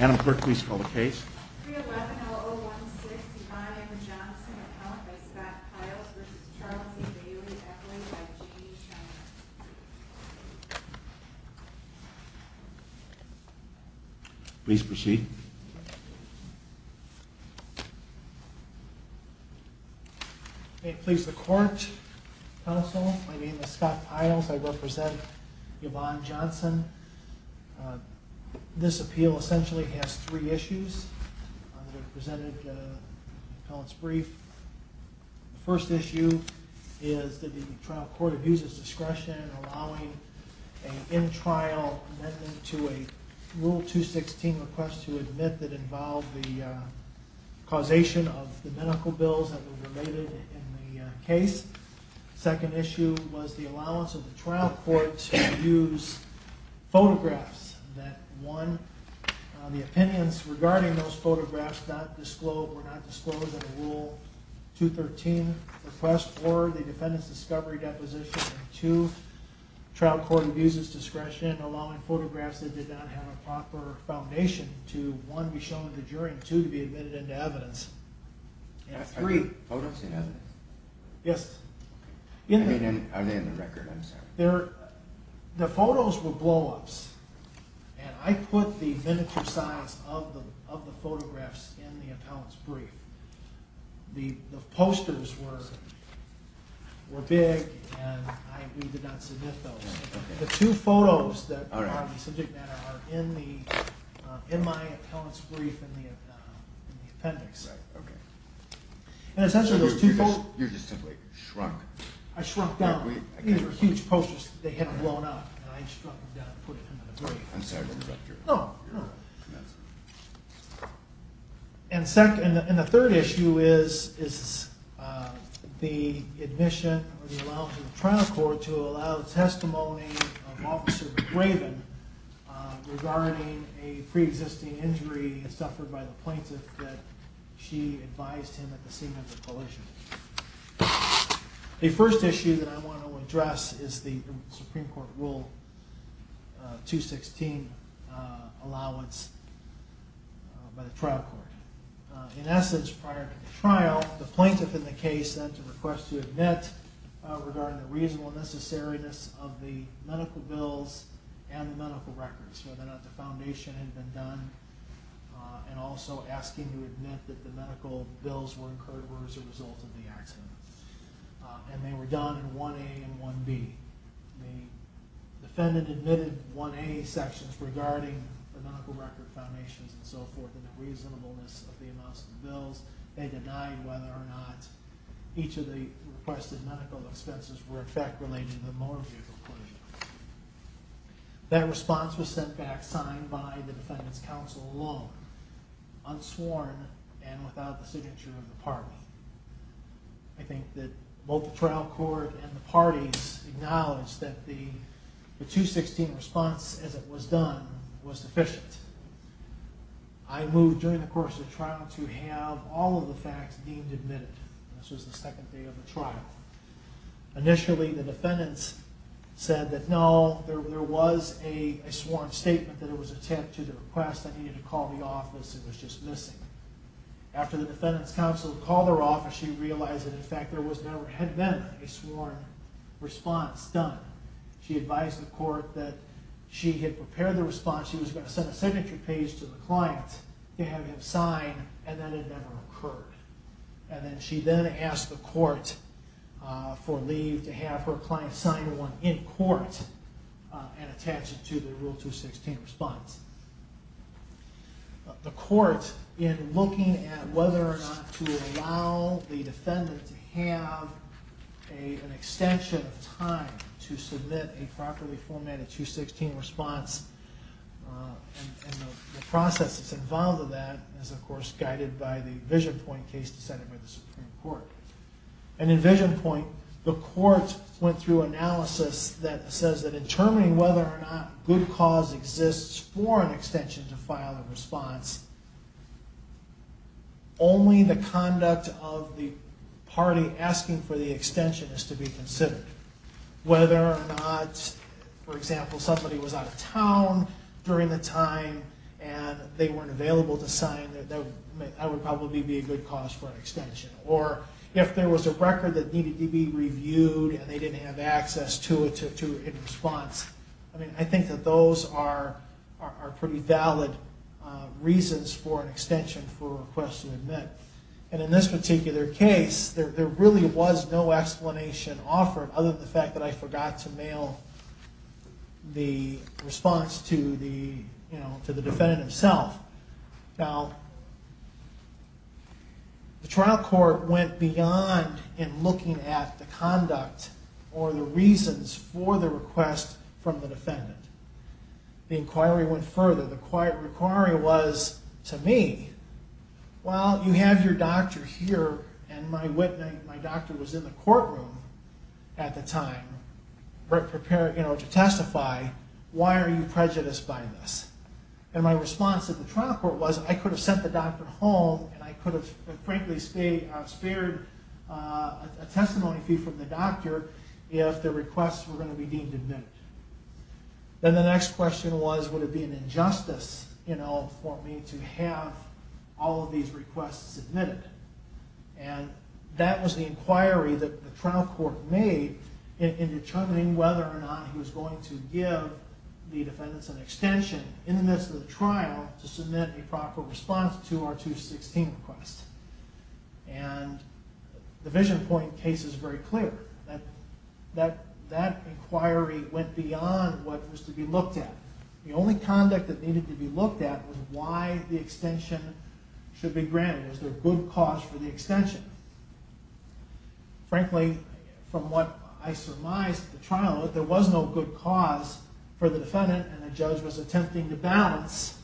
Adam Quirk, please call the case. 311-016-Yvonne M. Johnson, account by Scott Piles v. Charles E. Bailey, echoed by Jeanne Schreiner. Please proceed. May it please the Court, Counsel, my name is Scott Piles, I represent Yvonne Johnson. This appeal essentially has three issues that are presented in the appellant's brief. The first issue is that the trial court abuses discretion in allowing an in-trial amendment to a Rule 216 request to admit that involved the causation of the medical bills that were related in the case. The second issue was the allowance of the trial court to use photographs that, one, the opinions regarding those photographs were not disclosed in a Rule 213 request, or the defendant's discovery deposition. And two, the trial court abuses discretion in allowing photographs that did not have a proper foundation to, one, be shown in the jury, and two, to be admitted into evidence. Are the photos in evidence? Yes. I mean, are they in the record? I'm sorry. The photos were blow-ups, and I put the miniature size of the photographs in the appellant's brief. The posters were big, and we did not submit those. The two photos that are on the subject matter are in my appellant's brief in the appendix. You just simply shrunk? I shrunk down. These were huge posters. They had blown up, and I shrunk them down and put them in the brief. I'm sorry to interrupt your announcement. And the third issue is the admission or the allowance of the trial court to allow testimony of Officer Graven regarding a pre-existing injury suffered by the plaintiff that she advised him at the scene of the collision. The first issue that I want to address is the Supreme Court Rule 216 allowance by the trial court. In essence, prior to the trial, the plaintiff in the case sent a request to admit regarding the reasonable necessariness of the medical bills and the medical records, whether or not the foundation had been done, and also asking to admit that the medical bills were incurred or were as a result of the accident. And they were done in 1A and 1B. The defendant admitted 1A sections regarding the medical record foundations and so forth and the reasonableness of the amounts of bills. They denied whether or not each of the requested medical expenses were in fact related to the motor vehicle collision. That response was sent back signed by the defendant's counsel alone, unsworn and without the signature of the party. I think that both the trial court and the parties acknowledged that the 216 response, as it was done, was deficient. I moved during the course of the trial to have all of the facts deemed admitted. This was the second day of the trial. Initially, the defendants said that no, there was a sworn statement that it was a tip to the request. I needed to call the office. It was just missing. After the defendant's counsel called her office, she realized that in fact there had never been a sworn response done. She advised the court that she had prepared the response. She was going to send a signature page to the client to have him sign and that had never occurred. And then she then asked the court for leave to have her client sign one in court and attach it to the Rule 216 response. The court, in looking at whether or not to allow the defendant to have an extension of time to submit a properly formatted 216 response, and the process that's involved in that is of course guided by the EnvisionPoint case decided by the Supreme Court. In EnvisionPoint, the court went through analysis that says that in determining whether or not good cause exists for an extension to file a response, only the conduct of the party asking for the extension is to be considered. Whether or not, for example, somebody was out of town during the time and they weren't available to sign, that would probably be a good cause for an extension. Or if there was a record that needed to be reviewed and they didn't have access to it in response, I think that those are pretty valid reasons for an extension for a request to submit. And in this particular case, there really was no explanation offered other than the fact that I forgot to mail the response to the defendant himself. Now, the trial court went beyond in looking at the conduct or the reasons for the request from the defendant. The inquiry went further. The inquiry was to me, well, you have your doctor here and my doctor was in the courtroom at the time to testify. Why are you prejudiced by this? And my response at the trial court was, I could have sent the doctor home and I could have, frankly, spared a testimony fee from the doctor if the requests were going to be deemed admitted. Then the next question was, would it be an injustice for me to have all of these requests submitted? And that was the inquiry that the trial court made in determining whether or not he was going to give the defendants an extension in the midst of the trial to submit a proper response to our 216 request. And the VisionPoint case is very clear that that inquiry went beyond what was to be looked at. The only conduct that needed to be looked at was why the extension should be granted. Was there good cause for the extension? Frankly, from what I surmised at the trial, there was no good cause for the defendant and the judge was attempting to balance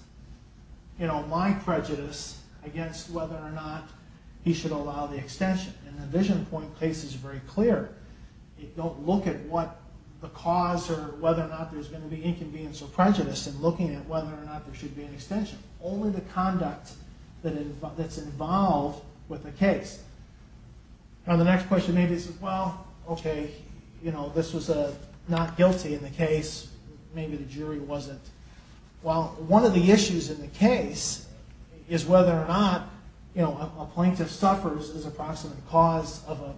my prejudice against whether or not he should allow the extension. And the VisionPoint case is very clear. You don't look at what the cause or whether or not there's going to be inconvenience or prejudice in looking at whether or not there should be an extension. Only the conduct that's involved with the case. And the next question maybe is, well, okay, you know, this was a not guilty in the case. Maybe the jury wasn't. Well, one of the issues in the case is whether or not, you know, a plaintiff suffers as a proximate cause of a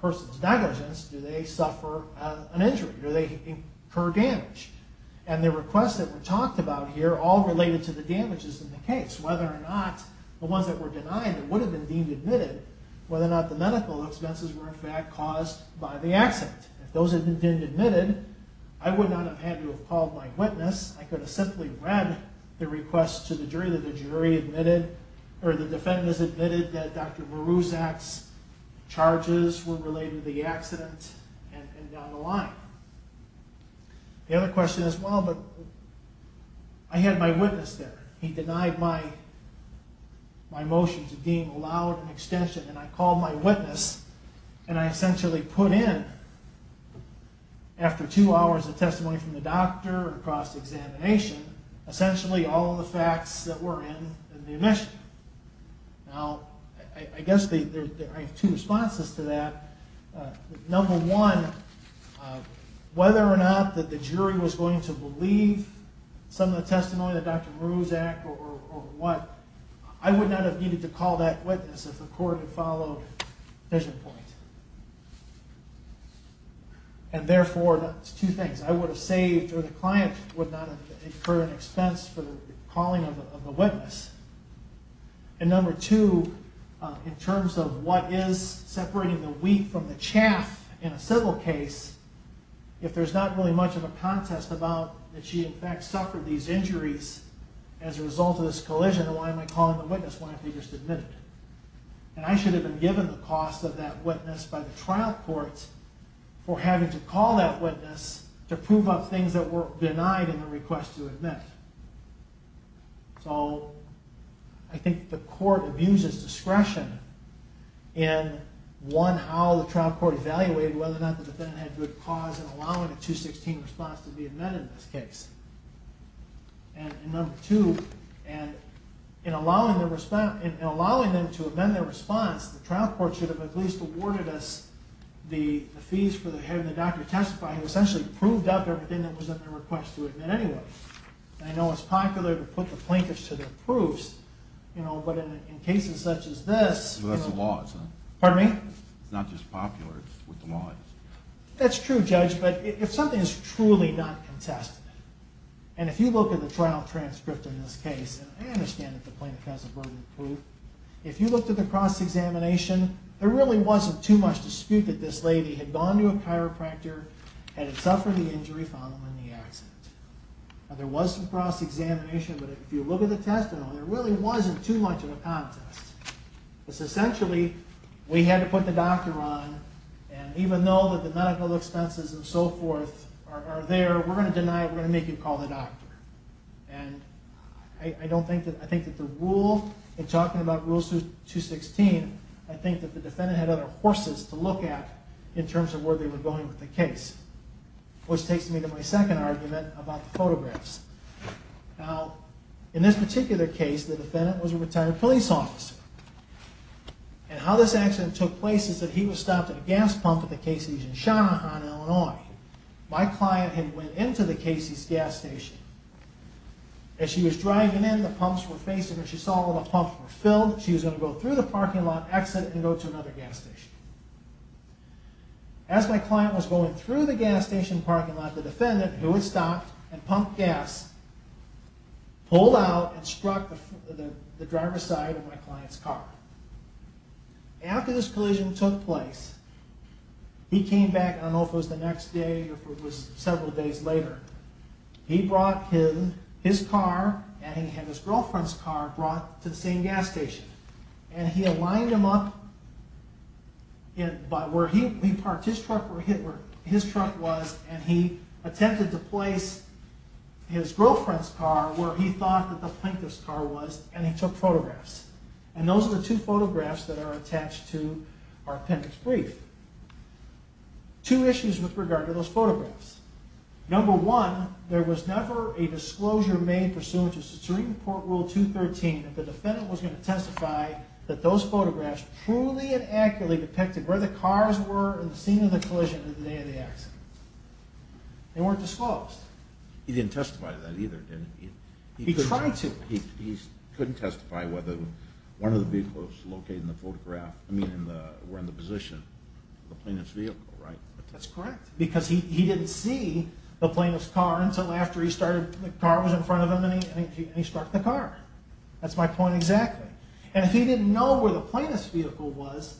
person's negligence. Do they suffer an injury? Do they incur damage? And the requests that were talked about here all related to the damages in the case. Whether or not the ones that were denied that would have been deemed admitted, whether or not the medical expenses were in fact caused by the accident. If those had been admitted, I would not have had to have called my witness. I could have simply read the request to the jury that the jury admitted, or the defendants admitted that Dr. Morozak's charges were related to the accident and down the line. The other question is, well, but I had my witness there. He denied my motion to deem allowed an extension. And I called my witness, and I essentially put in, after two hours of testimony from the doctor or cross-examination, essentially all the facts that were in the admission. Now, I guess there are two responses to that. Number one, whether or not that the jury was going to believe some of the testimony that Dr. Morozak or what, I would not have needed to call that witness if the court had followed vision point. And therefore, that's two things. I would have saved, or the client would not have incurred an expense for the calling of the witness. And number two, in terms of what is separating the wheat from the chaff in a civil case, if there's not really much of a contest about that she in fact suffered these injuries as a result of this collision, then why am I calling the witness when I have to just admit it? And I should have been given the cost of that witness by the trial court for having to call that witness to prove up things that were denied in the request to admit. So I think the court abuses discretion in, one, how the trial court evaluated whether or not the defendant had good cause in allowing a 216 response to be admitted in this case. And number two, in allowing them to amend their response, the trial court should have at least awarded us the fees for having the doctor testify who essentially proved up everything that was in the request to admit anyway. And I know it's popular to put the plinkets to their proofs, but in cases such as this... Well, that's the laws, huh? Pardon me? It's not just popular, it's what the law is. That's true, Judge, but if something is truly not contested, and if you look at the trial transcript in this case, and I understand that the plinket has a burden of proof, if you looked at the cross-examination, there really wasn't too much dispute that this lady had gone to a chiropractor and had suffered the injury following the accident. Now there was some cross-examination, but if you look at the test, there really wasn't too much of a contest. Essentially, we had to put the doctor on, and even though the medical expenses and so forth are there, we're going to deny it, we're going to make you call the doctor. And I think that the rule, in talking about Rule 216, I think that the defendant had other horses to look at in terms of where they were going with the case, which takes me to my second argument about the photographs. Now, in this particular case, the defendant was a retired police officer, and how this accident took place is that he was stopped at a gas pump at the Casey's in Shanahan, Illinois. My client had went into the Casey's gas station. As she was driving in, the pumps were facing her. She saw all the pumps were filled. She was going to go through the parking lot, exit, and go to another gas station. As my client was going through the gas station parking lot, the defendant, who had stopped and pumped gas, pulled out and struck the driver's side of my client's car. After this collision took place, he came back, I don't know if it was the next day or if it was several days later. He brought his car, and he had his girlfriend's car, brought to the same gas station. And he had lined him up where his truck was, and he attempted to place his girlfriend's car where he thought that the plaintiff's car was, and he took photographs. And those are the two photographs that are attached to our appendix brief. Two issues with regard to those photographs. Number one, there was never a disclosure made pursuant to Supreme Court Rule 213 that the defendant was going to testify that those photographs truly and accurately depicted where the cars were in the scene of the collision in the day of the accident. They weren't disclosed. He didn't testify to that either, did he? He tried to. He couldn't testify whether one of the vehicles located in the photograph were in the position of the plaintiff's vehicle, right? That's correct, because he didn't see the plaintiff's car until after the car was in front of him, and he struck the car. That's my point exactly. And if he didn't know where the plaintiff's vehicle was,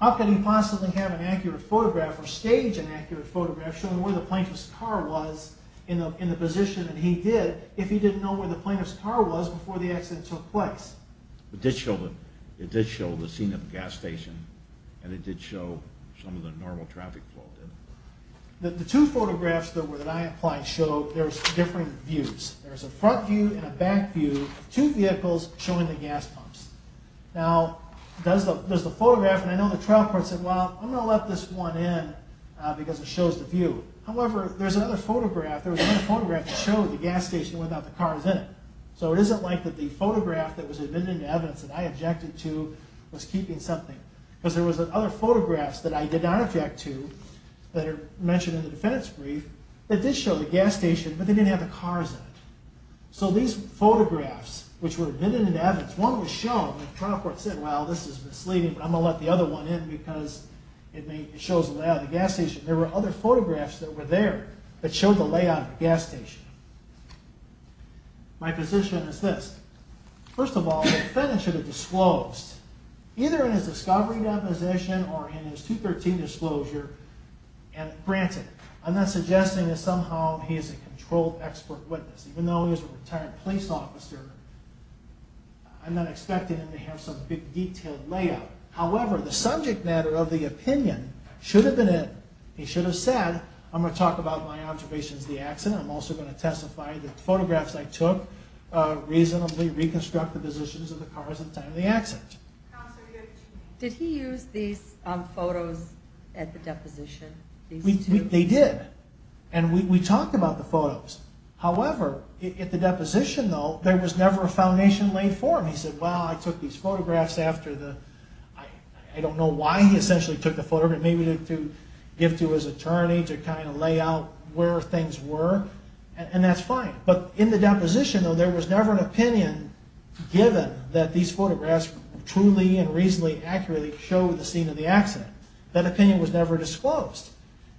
how could he possibly have an accurate photograph or stage an accurate photograph showing where the plaintiff's car was in the position that he did if he didn't know where the plaintiff's car was before the accident took place? It did show the scene of the gas station, and it did show some of the normal traffic flow, didn't it? The two photographs that I applied show there's different views. There's a front view and a back view of two vehicles showing the gas pumps. Now, there's the photograph, and I know the trial court said, well, I'm going to let this one in because it shows the view. However, there was another photograph that showed the gas station without the cars in it. So it isn't like that the photograph that was admitted into evidence that I objected to was keeping something, because there was other photographs that I did not object to that are mentioned in the defendant's brief that did show the gas station, but they didn't have the cars in it. So these photographs, which were admitted into evidence, one was shown, and the trial court said, well, this is misleading, but I'm going to let the other one in because it shows the layout of the gas station. There were other photographs that were there that showed the layout of the gas station. My position is this. First of all, the defendant should have disclosed, either in his discovery deposition or in his 213 disclosure, and granted, I'm not suggesting that somehow he is a controlled expert witness. Even though he is a retired police officer, I'm not expecting him to have some big detailed layout. However, the subject matter of the opinion should have been it. He should have said, I'm going to talk about my observations of the accident. I'm also going to testify that the photographs I took reasonably reconstruct the positions of the cars at the time of the accident. Did he use these photos at the deposition? They did. And we talked about the photos. However, at the deposition, though, there was never a foundation laid for him. He said, well, I took these photographs after the... I don't know why he essentially took the photographs. Maybe to give to his attorney to kind of lay out where things were. And that's fine. But in the deposition, though, there was never an opinion given that these photographs truly and reasonably accurately showed the scene of the accident. That opinion was never disclosed.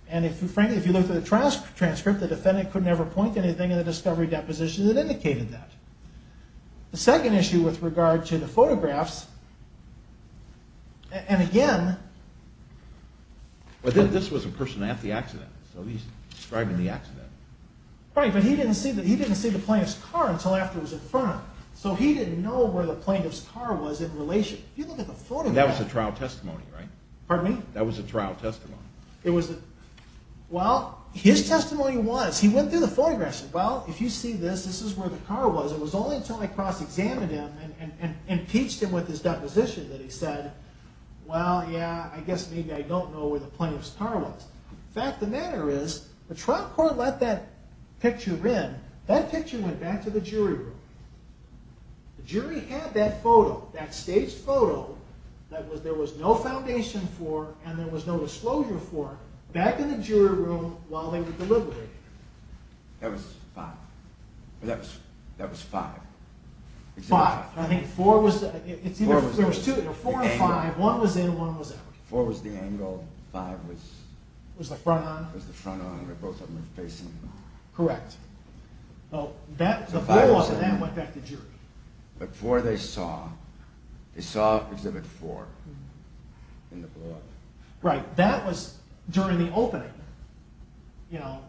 And frankly, if you look at the trial transcript, the defendant could never point to anything in the discovery deposition that indicated that. The second issue with regard to the photographs, and again... But this was a person at the accident. So he's describing the accident. Right, but he didn't see the plaintiff's car until after it was in front of him. So he didn't know where the plaintiff's car was in relation. That was a trial testimony, right? Pardon me? That was a trial testimony. Well, his testimony was... He went through the photographs and said, well, if you see this, this is where the car was. It was only until I cross-examined him and impeached him with his deposition that he said, well, yeah, I guess maybe I don't know where the plaintiff's car was. In fact, the matter is, the trial court let that picture in. That picture went back to the jury room. The jury had that photo, that staged photo, that there was no foundation for and there was no disclosure for, back in the jury room while they were deliberating. That was five. That was five. Five. I think four was... There was two. Four and five. One was in, one was out. Four was the angle, five was... It was the front-on. It was the front-on where both of them were facing. Correct. Well, that... The four wasn't there, it went back to the jury. But four they saw. They saw exhibit four in the book. Right. That was during the opening. You know,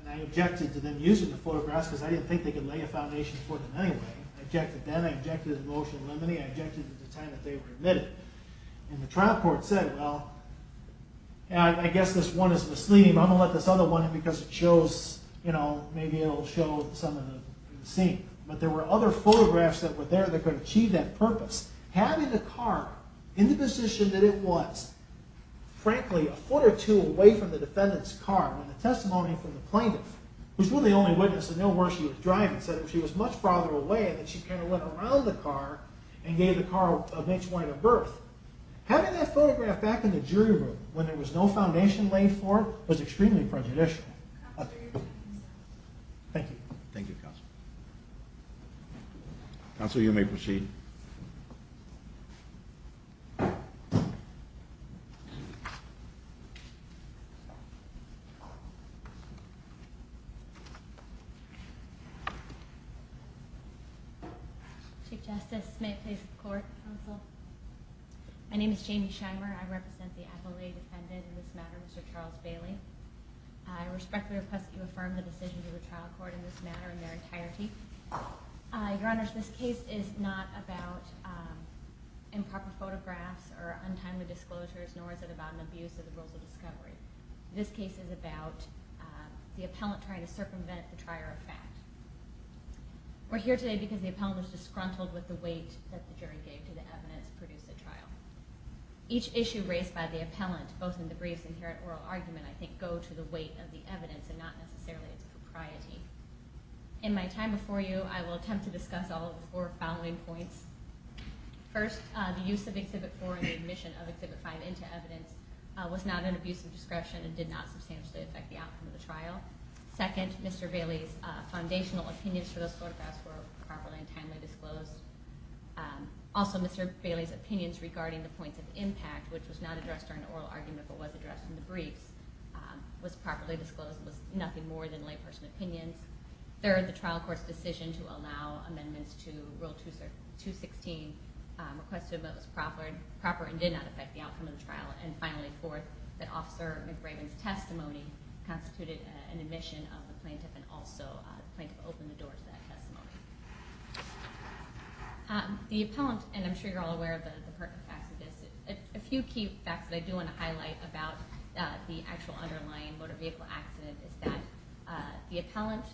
and I objected to them using the photographs because I didn't think they could lay a foundation for them anyway. I objected then, I objected at the motion of limine, I objected at the time that they were admitted. And the trial court said, well, I guess this one is misleading, but I'm going to let this other one in because it shows, you know, maybe it'll show some of the scene. But there were other photographs that were there that could achieve that purpose. Having the car in the position that it was, frankly, a foot or two away from the defendant's car, when the testimony from the plaintiff, who's really the only witness to know where she was driving, said if she was much farther away, that she kind of went around the car and gave the car a much wider berth. Having that photograph back in the jury room, when there was no foundation laid for it, was extremely prejudicial. Thank you. Thank you, Counsel. Counsel, you may proceed. Chief Justice, may I please report, Counsel? My name is Dr. Kelly. I'm the appellee defendant in this matter, Mr. Charles Bailey. I respectfully request that you affirm the decisions of the trial court in this matter in their entirety. Your Honors, this case is not about improper photographs or untimely disclosures, nor is it about an abuse of the rules of discovery. This case is about the appellant trying to circumvent the trier of fact. We're here today because the appellant was disgruntled with the weight that the jury gave to the evidence produced at trial. Each issue raised by the appellant, both in the briefs and here at oral argument, I think go to the weight of the evidence and not necessarily its propriety. In my time before you, I will attempt to discuss all of the four following points. First, the use of Exhibit 4 and the admission of Exhibit 5 into evidence was not an abuse of discretion and did not substantially affect the outcome of the trial. Second, Mr. Bailey's foundational opinions for those photographs were properly and timely disclosed. Also, Mr. Bailey's opinions regarding the points of impact, which was not addressed during oral argument but was addressed in the briefs, was properly disclosed and was nothing more than lay person opinions. Third, the trial court's decision to allow amendments to Rule 216 requested that it was proper and did not affect the outcome of the trial. And finally, fourth, that Officer McRaven's testimony constituted an admission of the plaintiff and also the plaintiff opened the door to that testimony. The appellant, and I'm sure you're all aware of the pertinent facts of this, a few key facts that I do want to highlight about the actual underlying motor vehicle accident is that the appellant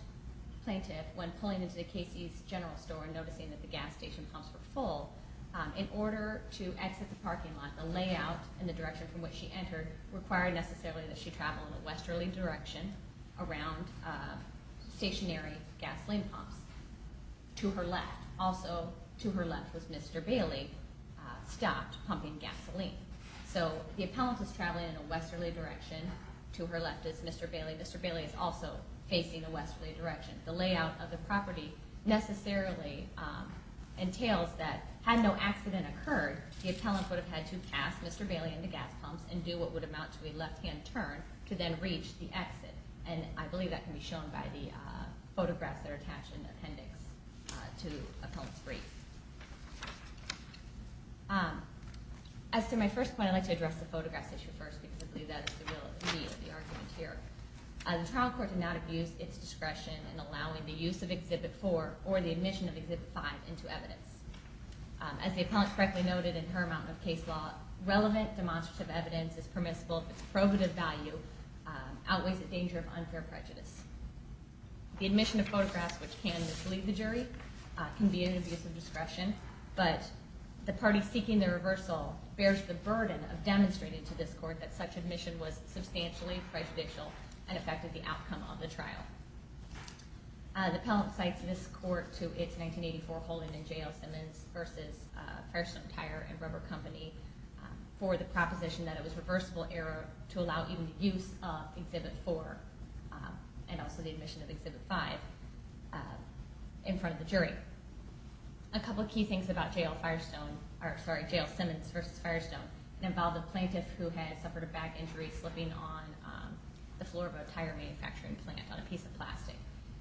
plaintiff when pulling into the Casey's General Store and noticing that the gas station pumps were full, in order to exit the parking lot, the layout and the direction from which she entered required necessarily that she travel in a westerly direction around stationary gasoline pumps to her left. Also to her left was Mr. Bailey stopped pumping gasoline. So the appellant is traveling in a westerly direction, to her left is Mr. Bailey. Mr. Bailey is also facing a westerly direction. The layout of the property necessarily entails that had no accident occurred, the appellant would have had to pass Mr. Bailey in the gas pumps and do what would amount to a left hand turn to then reach the exit. And I believe that can be shown by the appendix to appellant's brief. As to my first point, I'd like to address the photographs issue first because I believe that is the real need of the argument here. The trial court did not abuse its discretion in allowing the use of Exhibit 4 or the admission of Exhibit 5 into evidence. As the appellant correctly noted in her amount of case law, relevant demonstrative evidence is permissible if its probative value outweighs the danger of unfair prejudice. The admission of photographs which can mislead the jury can be an abuse of discretion, but the party seeking the reversal bears the burden of demonstrating to this court that such admission was substantially prejudicial and affected the outcome of the trial. The appellant cites this court to its 1984 holding in J.L. Simmons v. Firestone Tire and Rubber Company for the proposition that it was reversible error to allow even the use of and also the admission of Exhibit 5 in front of the jury. A couple of key things about J.L. Firestone, or sorry, J.L. Simmons v. Firestone involved a plaintiff who had suffered a back injury slipping on the floor of a tire manufacturing plant on a piece of plastic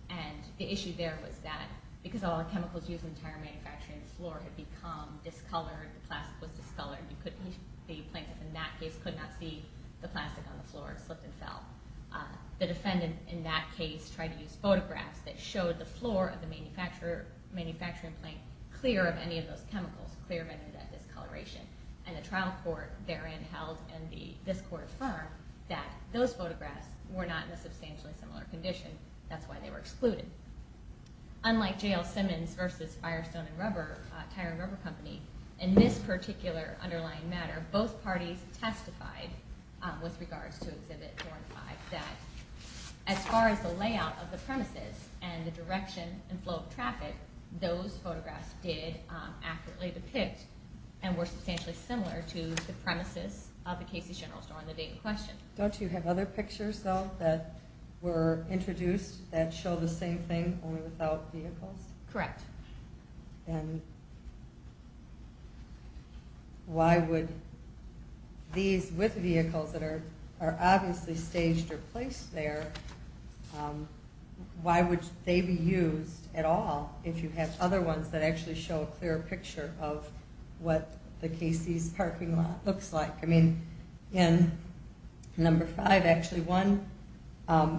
and the issue there was that because of all the chemicals used in tire manufacturing the floor had become discolored, the plastic was discolored, the plaintiff in that case could not see the plastic on the floor, it slipped and fell. The defendant in that case tried to use photographs that showed the floor of the manufacturing plant clear of any of those chemicals, clear of any of that discoloration and the trial court therein held and this court affirmed that those photographs were not in a substantially similar condition, that's why they were excluded. Unlike J.L. Simmons v. Firestone and Tire and Rubber Company, in this particular underlying matter both parties testified with regards to Exhibit 4 and 5 that as far as the layout of the premises and the direction and flow of traffic those photographs did accurately depict and were substantially similar to the premises of the Casey General Store on the date in question. Don't you have other pictures though that were introduced that show the same thing only without vehicles? Correct. And why would these with vehicles that are obviously staged or placed there why would they be used at all if you have other ones that actually show a clearer picture of what the Casey's parking lot looks like? In Number 5 actually one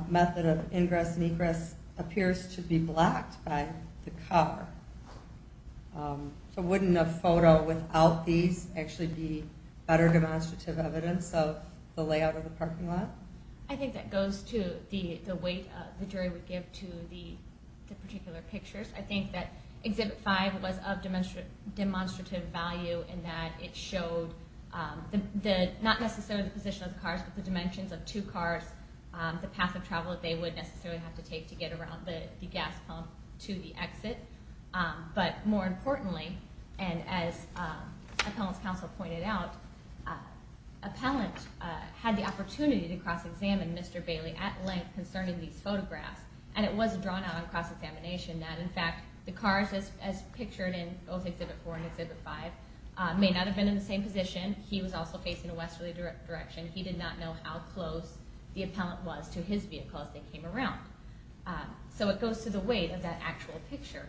method of ingress and egress appears to be blocked by the car. So wouldn't a photo without these actually be better demonstrative evidence of the layout of the parking lot? I think that goes to the weight the jury would give to the particular pictures. I think that Exhibit 5 was of demonstrative value in that it showed not necessarily the position of the cars but the dimensions of two cars the path of travel that they would necessarily have to take to get around the gas pump to the exit. But more importantly and as Appellant's Counsel pointed out Appellant had the opportunity to cross-examine Mr. Bailey at length concerning these photographs and it was drawn out on cross-examination that in fact the cars as pictured in both Exhibit 4 and Exhibit 5 may not have been in the same position. He was also facing a westerly direction. He did not know how close the Appellant was to his vehicle as they came around. So it goes to the weight of that actual picture.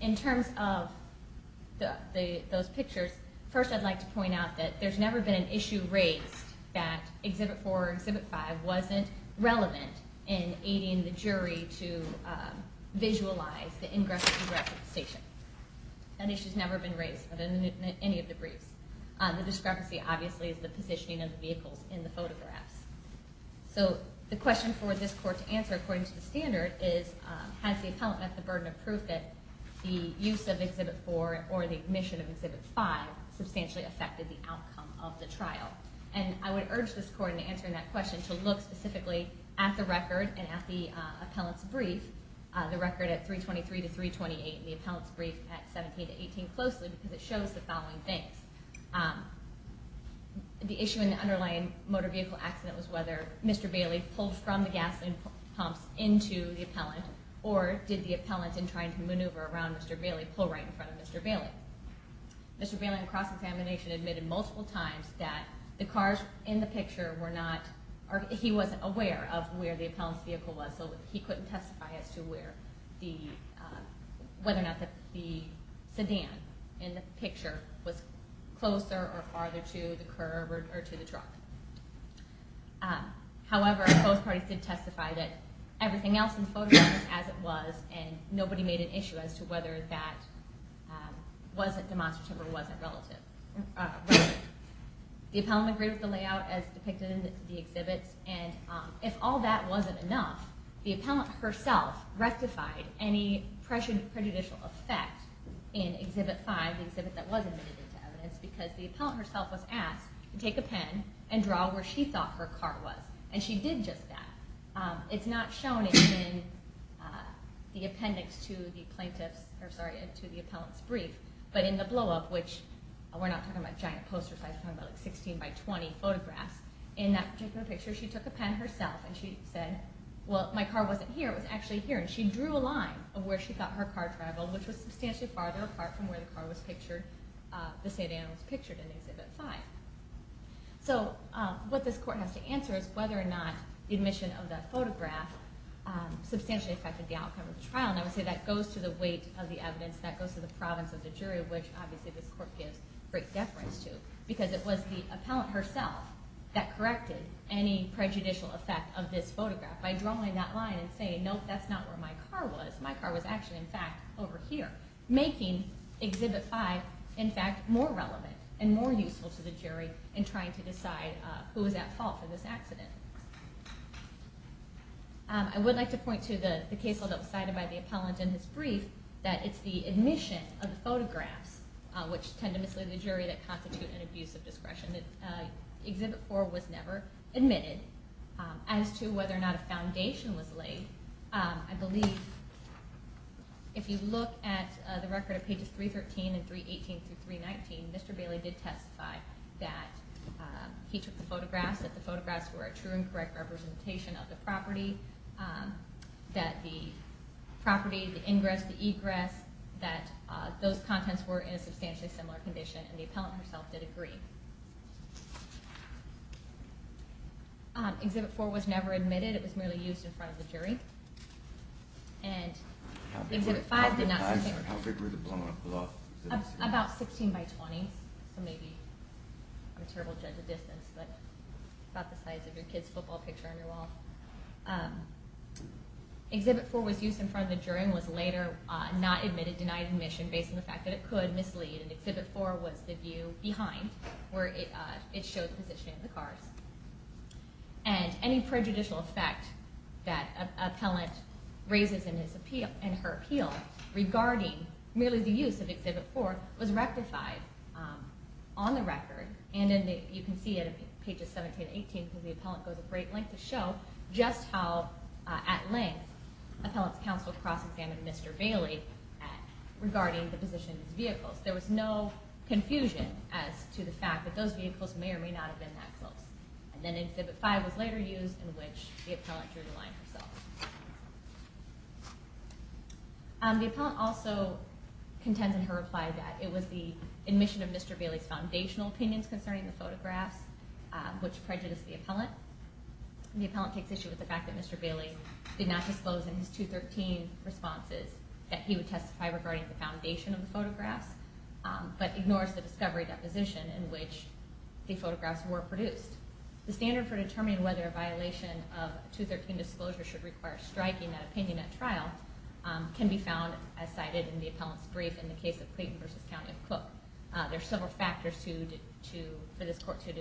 In terms of those pictures first I'd like to point out that there's never been an issue raised that Exhibit 4 or Exhibit 5 wasn't relevant in aiding the jury to visualize the ingress and egress of the station. That issue has never been raised in any of the briefs. The discrepancy obviously is the positioning of the vehicles in the photographs. So the question for this Court to answer according to the standard is has the Appellant met the burden of proof that the use of Exhibit 4 or the admission of Exhibit 5 substantially affected the outcome of the trial? And I would urge this Court in answering that question to look specifically at the record and at the Appellant's brief, the record at 323 to 328 and the Appellant's brief at 17 to 18 closely because it shows the following things. The issue in the underlying motor vehicle accident was whether Mr. Bailey pulled from the gasoline pumps into the Appellant or did the Appellant in trying to maneuver around Mr. Bailey pull right in front of Mr. Bailey. Mr. Bailey in cross-examination admitted multiple times that the cars in the picture were not or he wasn't aware of where the Appellant's vehicle was so he couldn't testify as to where the whether or not the sedan in the picture was closer or farther to the curb or to the truck. However, both parties did testify that everything else in the photograph as it was and nobody made an issue as to whether that wasn't demonstrative or wasn't relative. The Appellant agreed with the layout as depicted in the exhibits and if all that wasn't enough, the Appellant herself rectified any prejudicial effect in Exhibit 5, the exhibit that was admitted into evidence because the Appellant herself was asked to take a pen and draw where she thought her car was. She did just that. It's not shown in the appendix to the Appellant's brief, but in the blow-up, which we're not talking about giant posters, we're talking about 16x20 photographs, in that particular picture she took a pen herself and she said, well, my car wasn't here, it was actually here, and she drew a line of where she thought her car traveled, which was substantially farther apart from where the car was pictured, the Seydan was pictured in Exhibit 5. So what this Court has to answer is whether or not the admission of that photograph substantially affected the outcome of the trial, and I would say that goes to the weight of the evidence, that goes to the province of the jury, which obviously this Court gives great deference to, because it was the Appellant herself that corrected any prejudicial effect of this photograph by drawing that line and saying, nope, that's not where my car was. My car was actually in fact over here, making Exhibit 5, in fact, more relevant and more useful to the jury in trying to decide who was at fault for this accident. I would like to point to the case that was cited by the Appellant in his brief, that it's the admission of the photographs, which tend to mislead the jury, that constitute an abuse of discretion. Exhibit 4 was never admitted. As to whether or not a foundation was laid, I believe if you look at the record of pages 313 and 318-319, Mr. Bailey did testify that he took the photographs, that the photographs were a true and correct representation of the that the property, the ingress, the egress, that those contents were in a substantially similar condition, and the Appellant herself did agree. Exhibit 4 was never admitted. It was merely used in front of the jury. And Exhibit 5 did not about 16 by 20, so maybe I'm a terrible judge of distance, but about the size of your kids football picture on your wall. Exhibit 4 was used in front of the jury and was later not admitted, denied admission, based on the fact that it could mislead, and Exhibit 4 was the view behind, where it showed the positioning of the cars. And any prejudicial effect that Appellant raises in her appeal regarding merely the use of Exhibit 4 was rectified on the record, and you can see it pages 17 and 18, because the Appellant goes a great length to show just how at length Appellant's counsel cross-examined Mr. Bailey regarding the position of his vehicles. There was no confusion as to the fact that those vehicles may or may not have been that close. And then Exhibit 5 was later used in which the Appellant drew the line herself. The Appellant also contends in her reply that it was the admission of Mr. Bailey's foundational opinions concerning the photographs which prejudiced the Appellant. The Appellant takes issue with the fact that Mr. Bailey did not disclose in his 213 responses that he would testify regarding the foundation of the photographs, but ignores the discovery deposition in which the photographs were produced. The standard for determining whether a violation of 213 disclosure should require striking that opinion at trial can be found, as cited in the Appellant's brief in the case of Clayton v. Cook. There are several factors for this Court to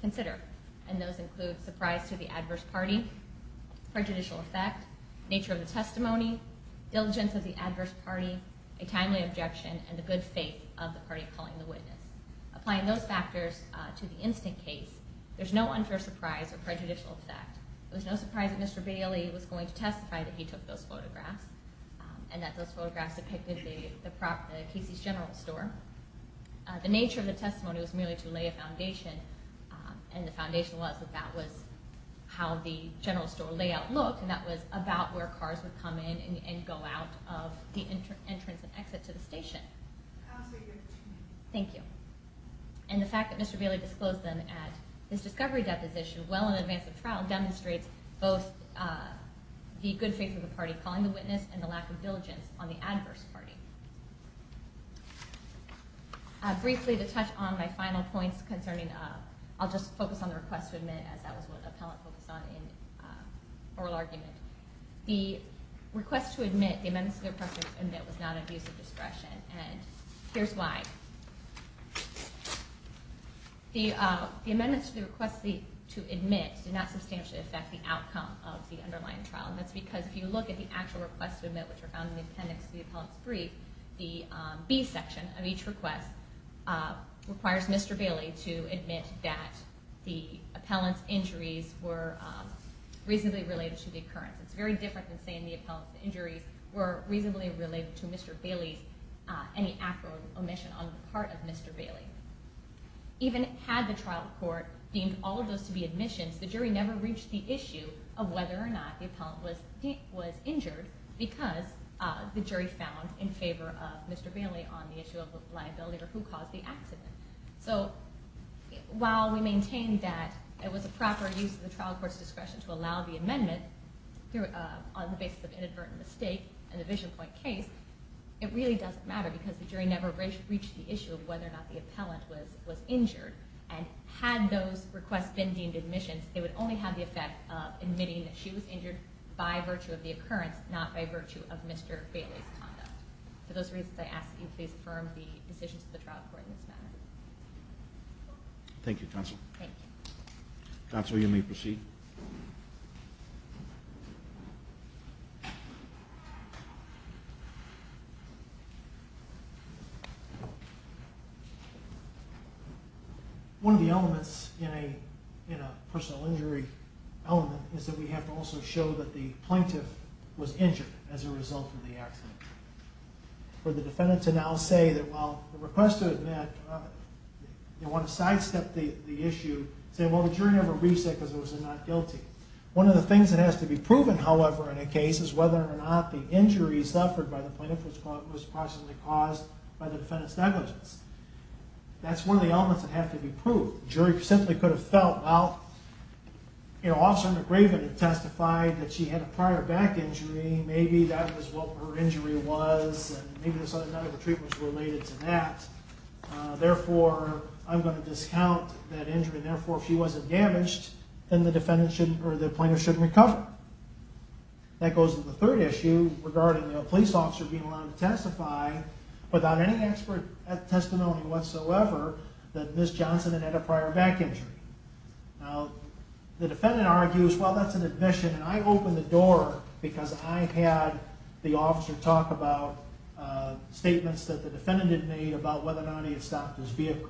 consider, and those include surprise to the adverse party, prejudicial effect, nature of the testimony, diligence of the adverse party, a timely objection, and the good faith of the party calling the witness. Applying those factors to the instant case, there's no unfair surprise or prejudicial effect. It was no surprise that Mr. Bailey was going to testify that he took those photographs and that those photographs depicted the Casey's General Store. The nature of the testimony was merely to lay a foundation, and the foundation was that that was how the General Store cars would come in and go out of the entrance and exit to the station. Thank you. And the fact that Mr. Bailey disclosed them at his discovery deposition well in advance of trial demonstrates both the good faith of the party calling the witness and the lack of diligence on the adverse party. Briefly, to touch on my final points concerning... I'll just focus on the request to admit, as that was what Appellant focused on in oral argument. The request to admit, the amendments to the request to admit, here's why. The amendments to the request to admit did not substantially affect the outcome of the underlying trial, and that's because if you look at the actual requests to admit which are found in the appendix to the appellant's brief, the B section of each request requires Mr. Bailey to admit that the appellant's injuries were reasonably related to the occurrence. It's very different than saying the appellant's injuries were reasonably related to Mr. Bailey's any actual omission on the part of Mr. Bailey. Even had the trial court deemed all of those to be admissions, the jury never reached the issue of whether or not the appellant was injured because the jury found in favor of Mr. Bailey on the issue of liability or who caused the accident. So, while we maintained that it was a proper use of the trial court's discretion to allow the amendment on the basis of the case, it really doesn't matter because the jury never reached the issue of whether or not the appellant was injured, and had those requests been deemed admissions, they would only have the effect of admitting that she was injured by virtue of the occurrence, not by virtue of Mr. Bailey's conduct. For those reasons, I ask that you please affirm the decisions of the trial court in this matter. Thank you, counsel. Thank you. Counsel, you may proceed. One of the elements in a personal injury element is that we have to also show that the plaintiff was injured as a result of the accident. For the defendant to now say that while the request to admit they want to sidestep the issue, say, well, the jury never reached that because it was a not guilty. One of the things that has to be proven, however, in a case is whether or not the injury suffered by the plaintiff was possibly caused by the defendant's negligence. That's one of the elements that have to be proved. The jury simply could have felt, well, Officer McRaven had testified that she had a prior back injury. Maybe that was what her injury was, and maybe there's other medical treatments related to that. Therefore, I'm going to discount that injury. Therefore, if she wasn't damaged, then the plaintiff shouldn't recover. That goes to the third element, which is the defense officer being allowed to testify without any expert testimony whatsoever that Ms. Johnson had had a prior back injury. The defendant argues, well, that's an admission, and I opened the door because I had the officer talk about statements that the defendant had made about whether or not he had stopped his vehicle.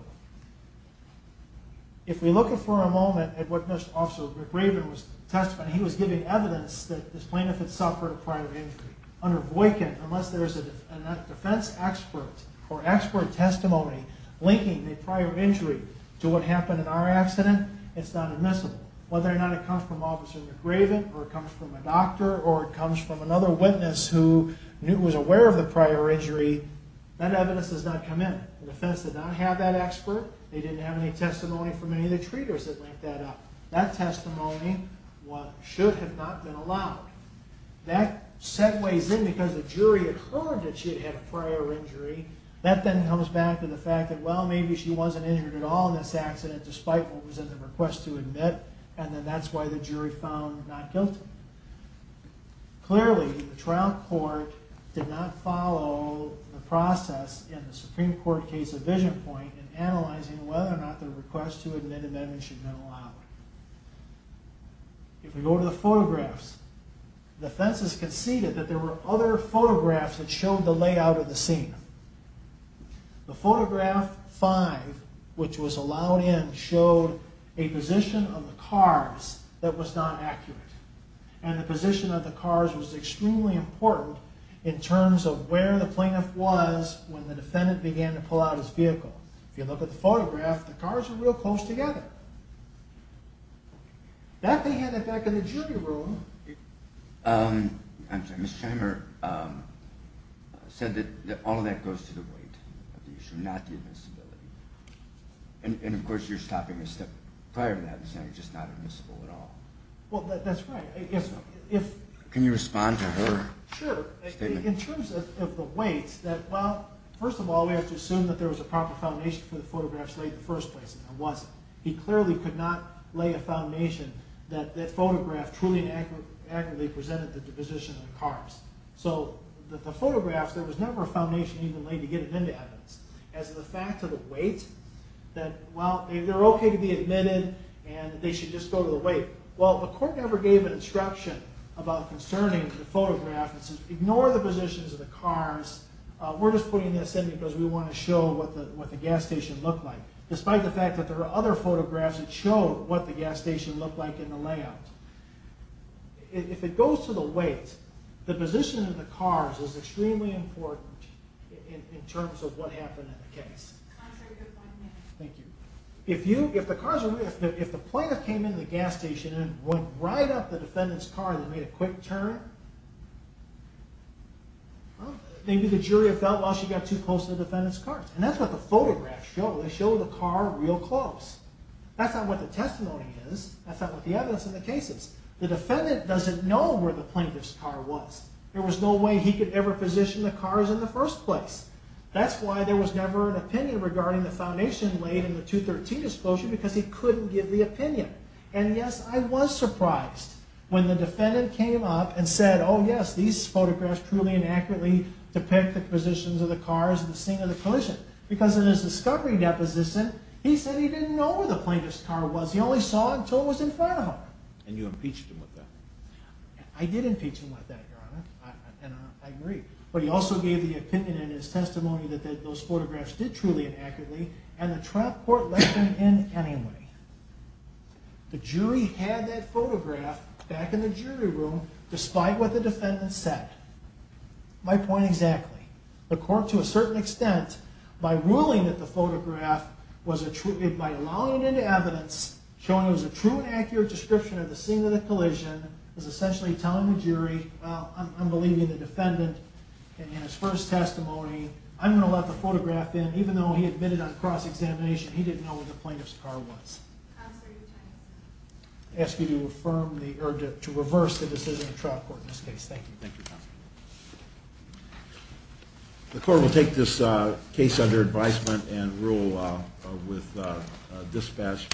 If we look for a moment at what Mr. Officer McRaven testified, he was giving evidence that this plaintiff had suffered a prior injury. Under Boykin, unless there's a defense expert or expert testimony linking the prior injury to what happened in our accident, it's not admissible. Whether or not it comes from Officer McRaven, or it comes from a doctor, or it comes from another witness who was aware of the prior injury, that evidence does not come in. The defense did not have that expert. They didn't have any testimony from any of the treaters that linked that up. That testimony should have not been allowed. That segues in because the jury had heard that she had a prior injury. That then comes back to the fact that, well, maybe she wasn't injured at all in this accident, despite what was in the request to admit, and then that's why the jury found not guilty. Clearly, the trial court did not follow the process in the Supreme Court case of Visionpoint in analyzing whether or not the request to admit should have been allowed. If we go to the photographs, the defense has conceded that there were other photographs that showed the layout of the scene. The photograph 5, which was allowed in, showed a position of the cars that was not accurate. And the position of the cars was extremely important in terms of where the plaintiff was when the defendant began to pull out his vehicle. If you look at the photograph, the cars were real close together. That they handed back in the jury room. I'm sorry. Ms. Scheimer said that all of that goes to the weight of the issue, not the admissibility. And, of course, you're stopping a step prior to that and saying it's just not admissible at all. Well, that's right. Can you respond to her statement? Sure. In terms of the weight, that, well, first of all, we have to assume that there was a proper foundation for the photographs laid in the first place, and there wasn't. He clearly could not lay a foundation that that photograph truly and accurately presented the position of the cars. So, the photographs, there was never a foundation even laid to get it into evidence. As to the fact of the weight, that, well, they're okay to be admitted, and they should just go to the weight. Well, the court never gave an instruction about concerning the photograph. It says, ignore the positions of the cars. We're just putting this in because we want to show what the gas station looked like, despite the fact that there are other photographs that show what the gas station looked like in the layout. If it goes to the weight, the position of the cars is extremely important in terms of what happened in the case. Thank you. If the plaintiff came in the gas station and went right up the defendant's car and made a quick turn, well, maybe the jury felt, well, she got too close to the defendant's car. And that's what the photographs show. They show the car real close. That's not what the testimony is. That's not what the evidence in the case is. The defendant doesn't know where the plaintiff's car was. There was no way he could ever position the cars in the first place. That's why there was never an opinion regarding the foundation laid in the 213 disclosure because he couldn't give the opinion. And yes, I was surprised when the defendant came up and said, oh yes, these photographs truly inaccurately depict the positions of the cars in the scene of the collision. Because in his discovery deposition, he said he didn't know where the plaintiff's car was. He only saw it until it was in front of him. And you impeached him with that. I did impeach him with that, Your Honor. And I agree. But he also gave the opinion in his testimony that those photographs did truly inaccurately and the trial court let them in anyway. The jury had that photograph back in the jury room despite what the defendant said. My point exactly. The court, to a certain extent, by ruling that the photograph was a true, by allowing it into evidence, showing it was a true and accurate description of the scene of the collision, was essentially telling the jury, well, I'm believing the defendant in his first testimony. I'm going to let the photograph in even though he admitted on cross-examination he didn't know where the plaintiff's car was. Counselor, your time is up. I ask you to reverse the decision of the trial court in this case. Thank you. Thank you, Counselor. The court will take this case under advisement and rule with dispatch.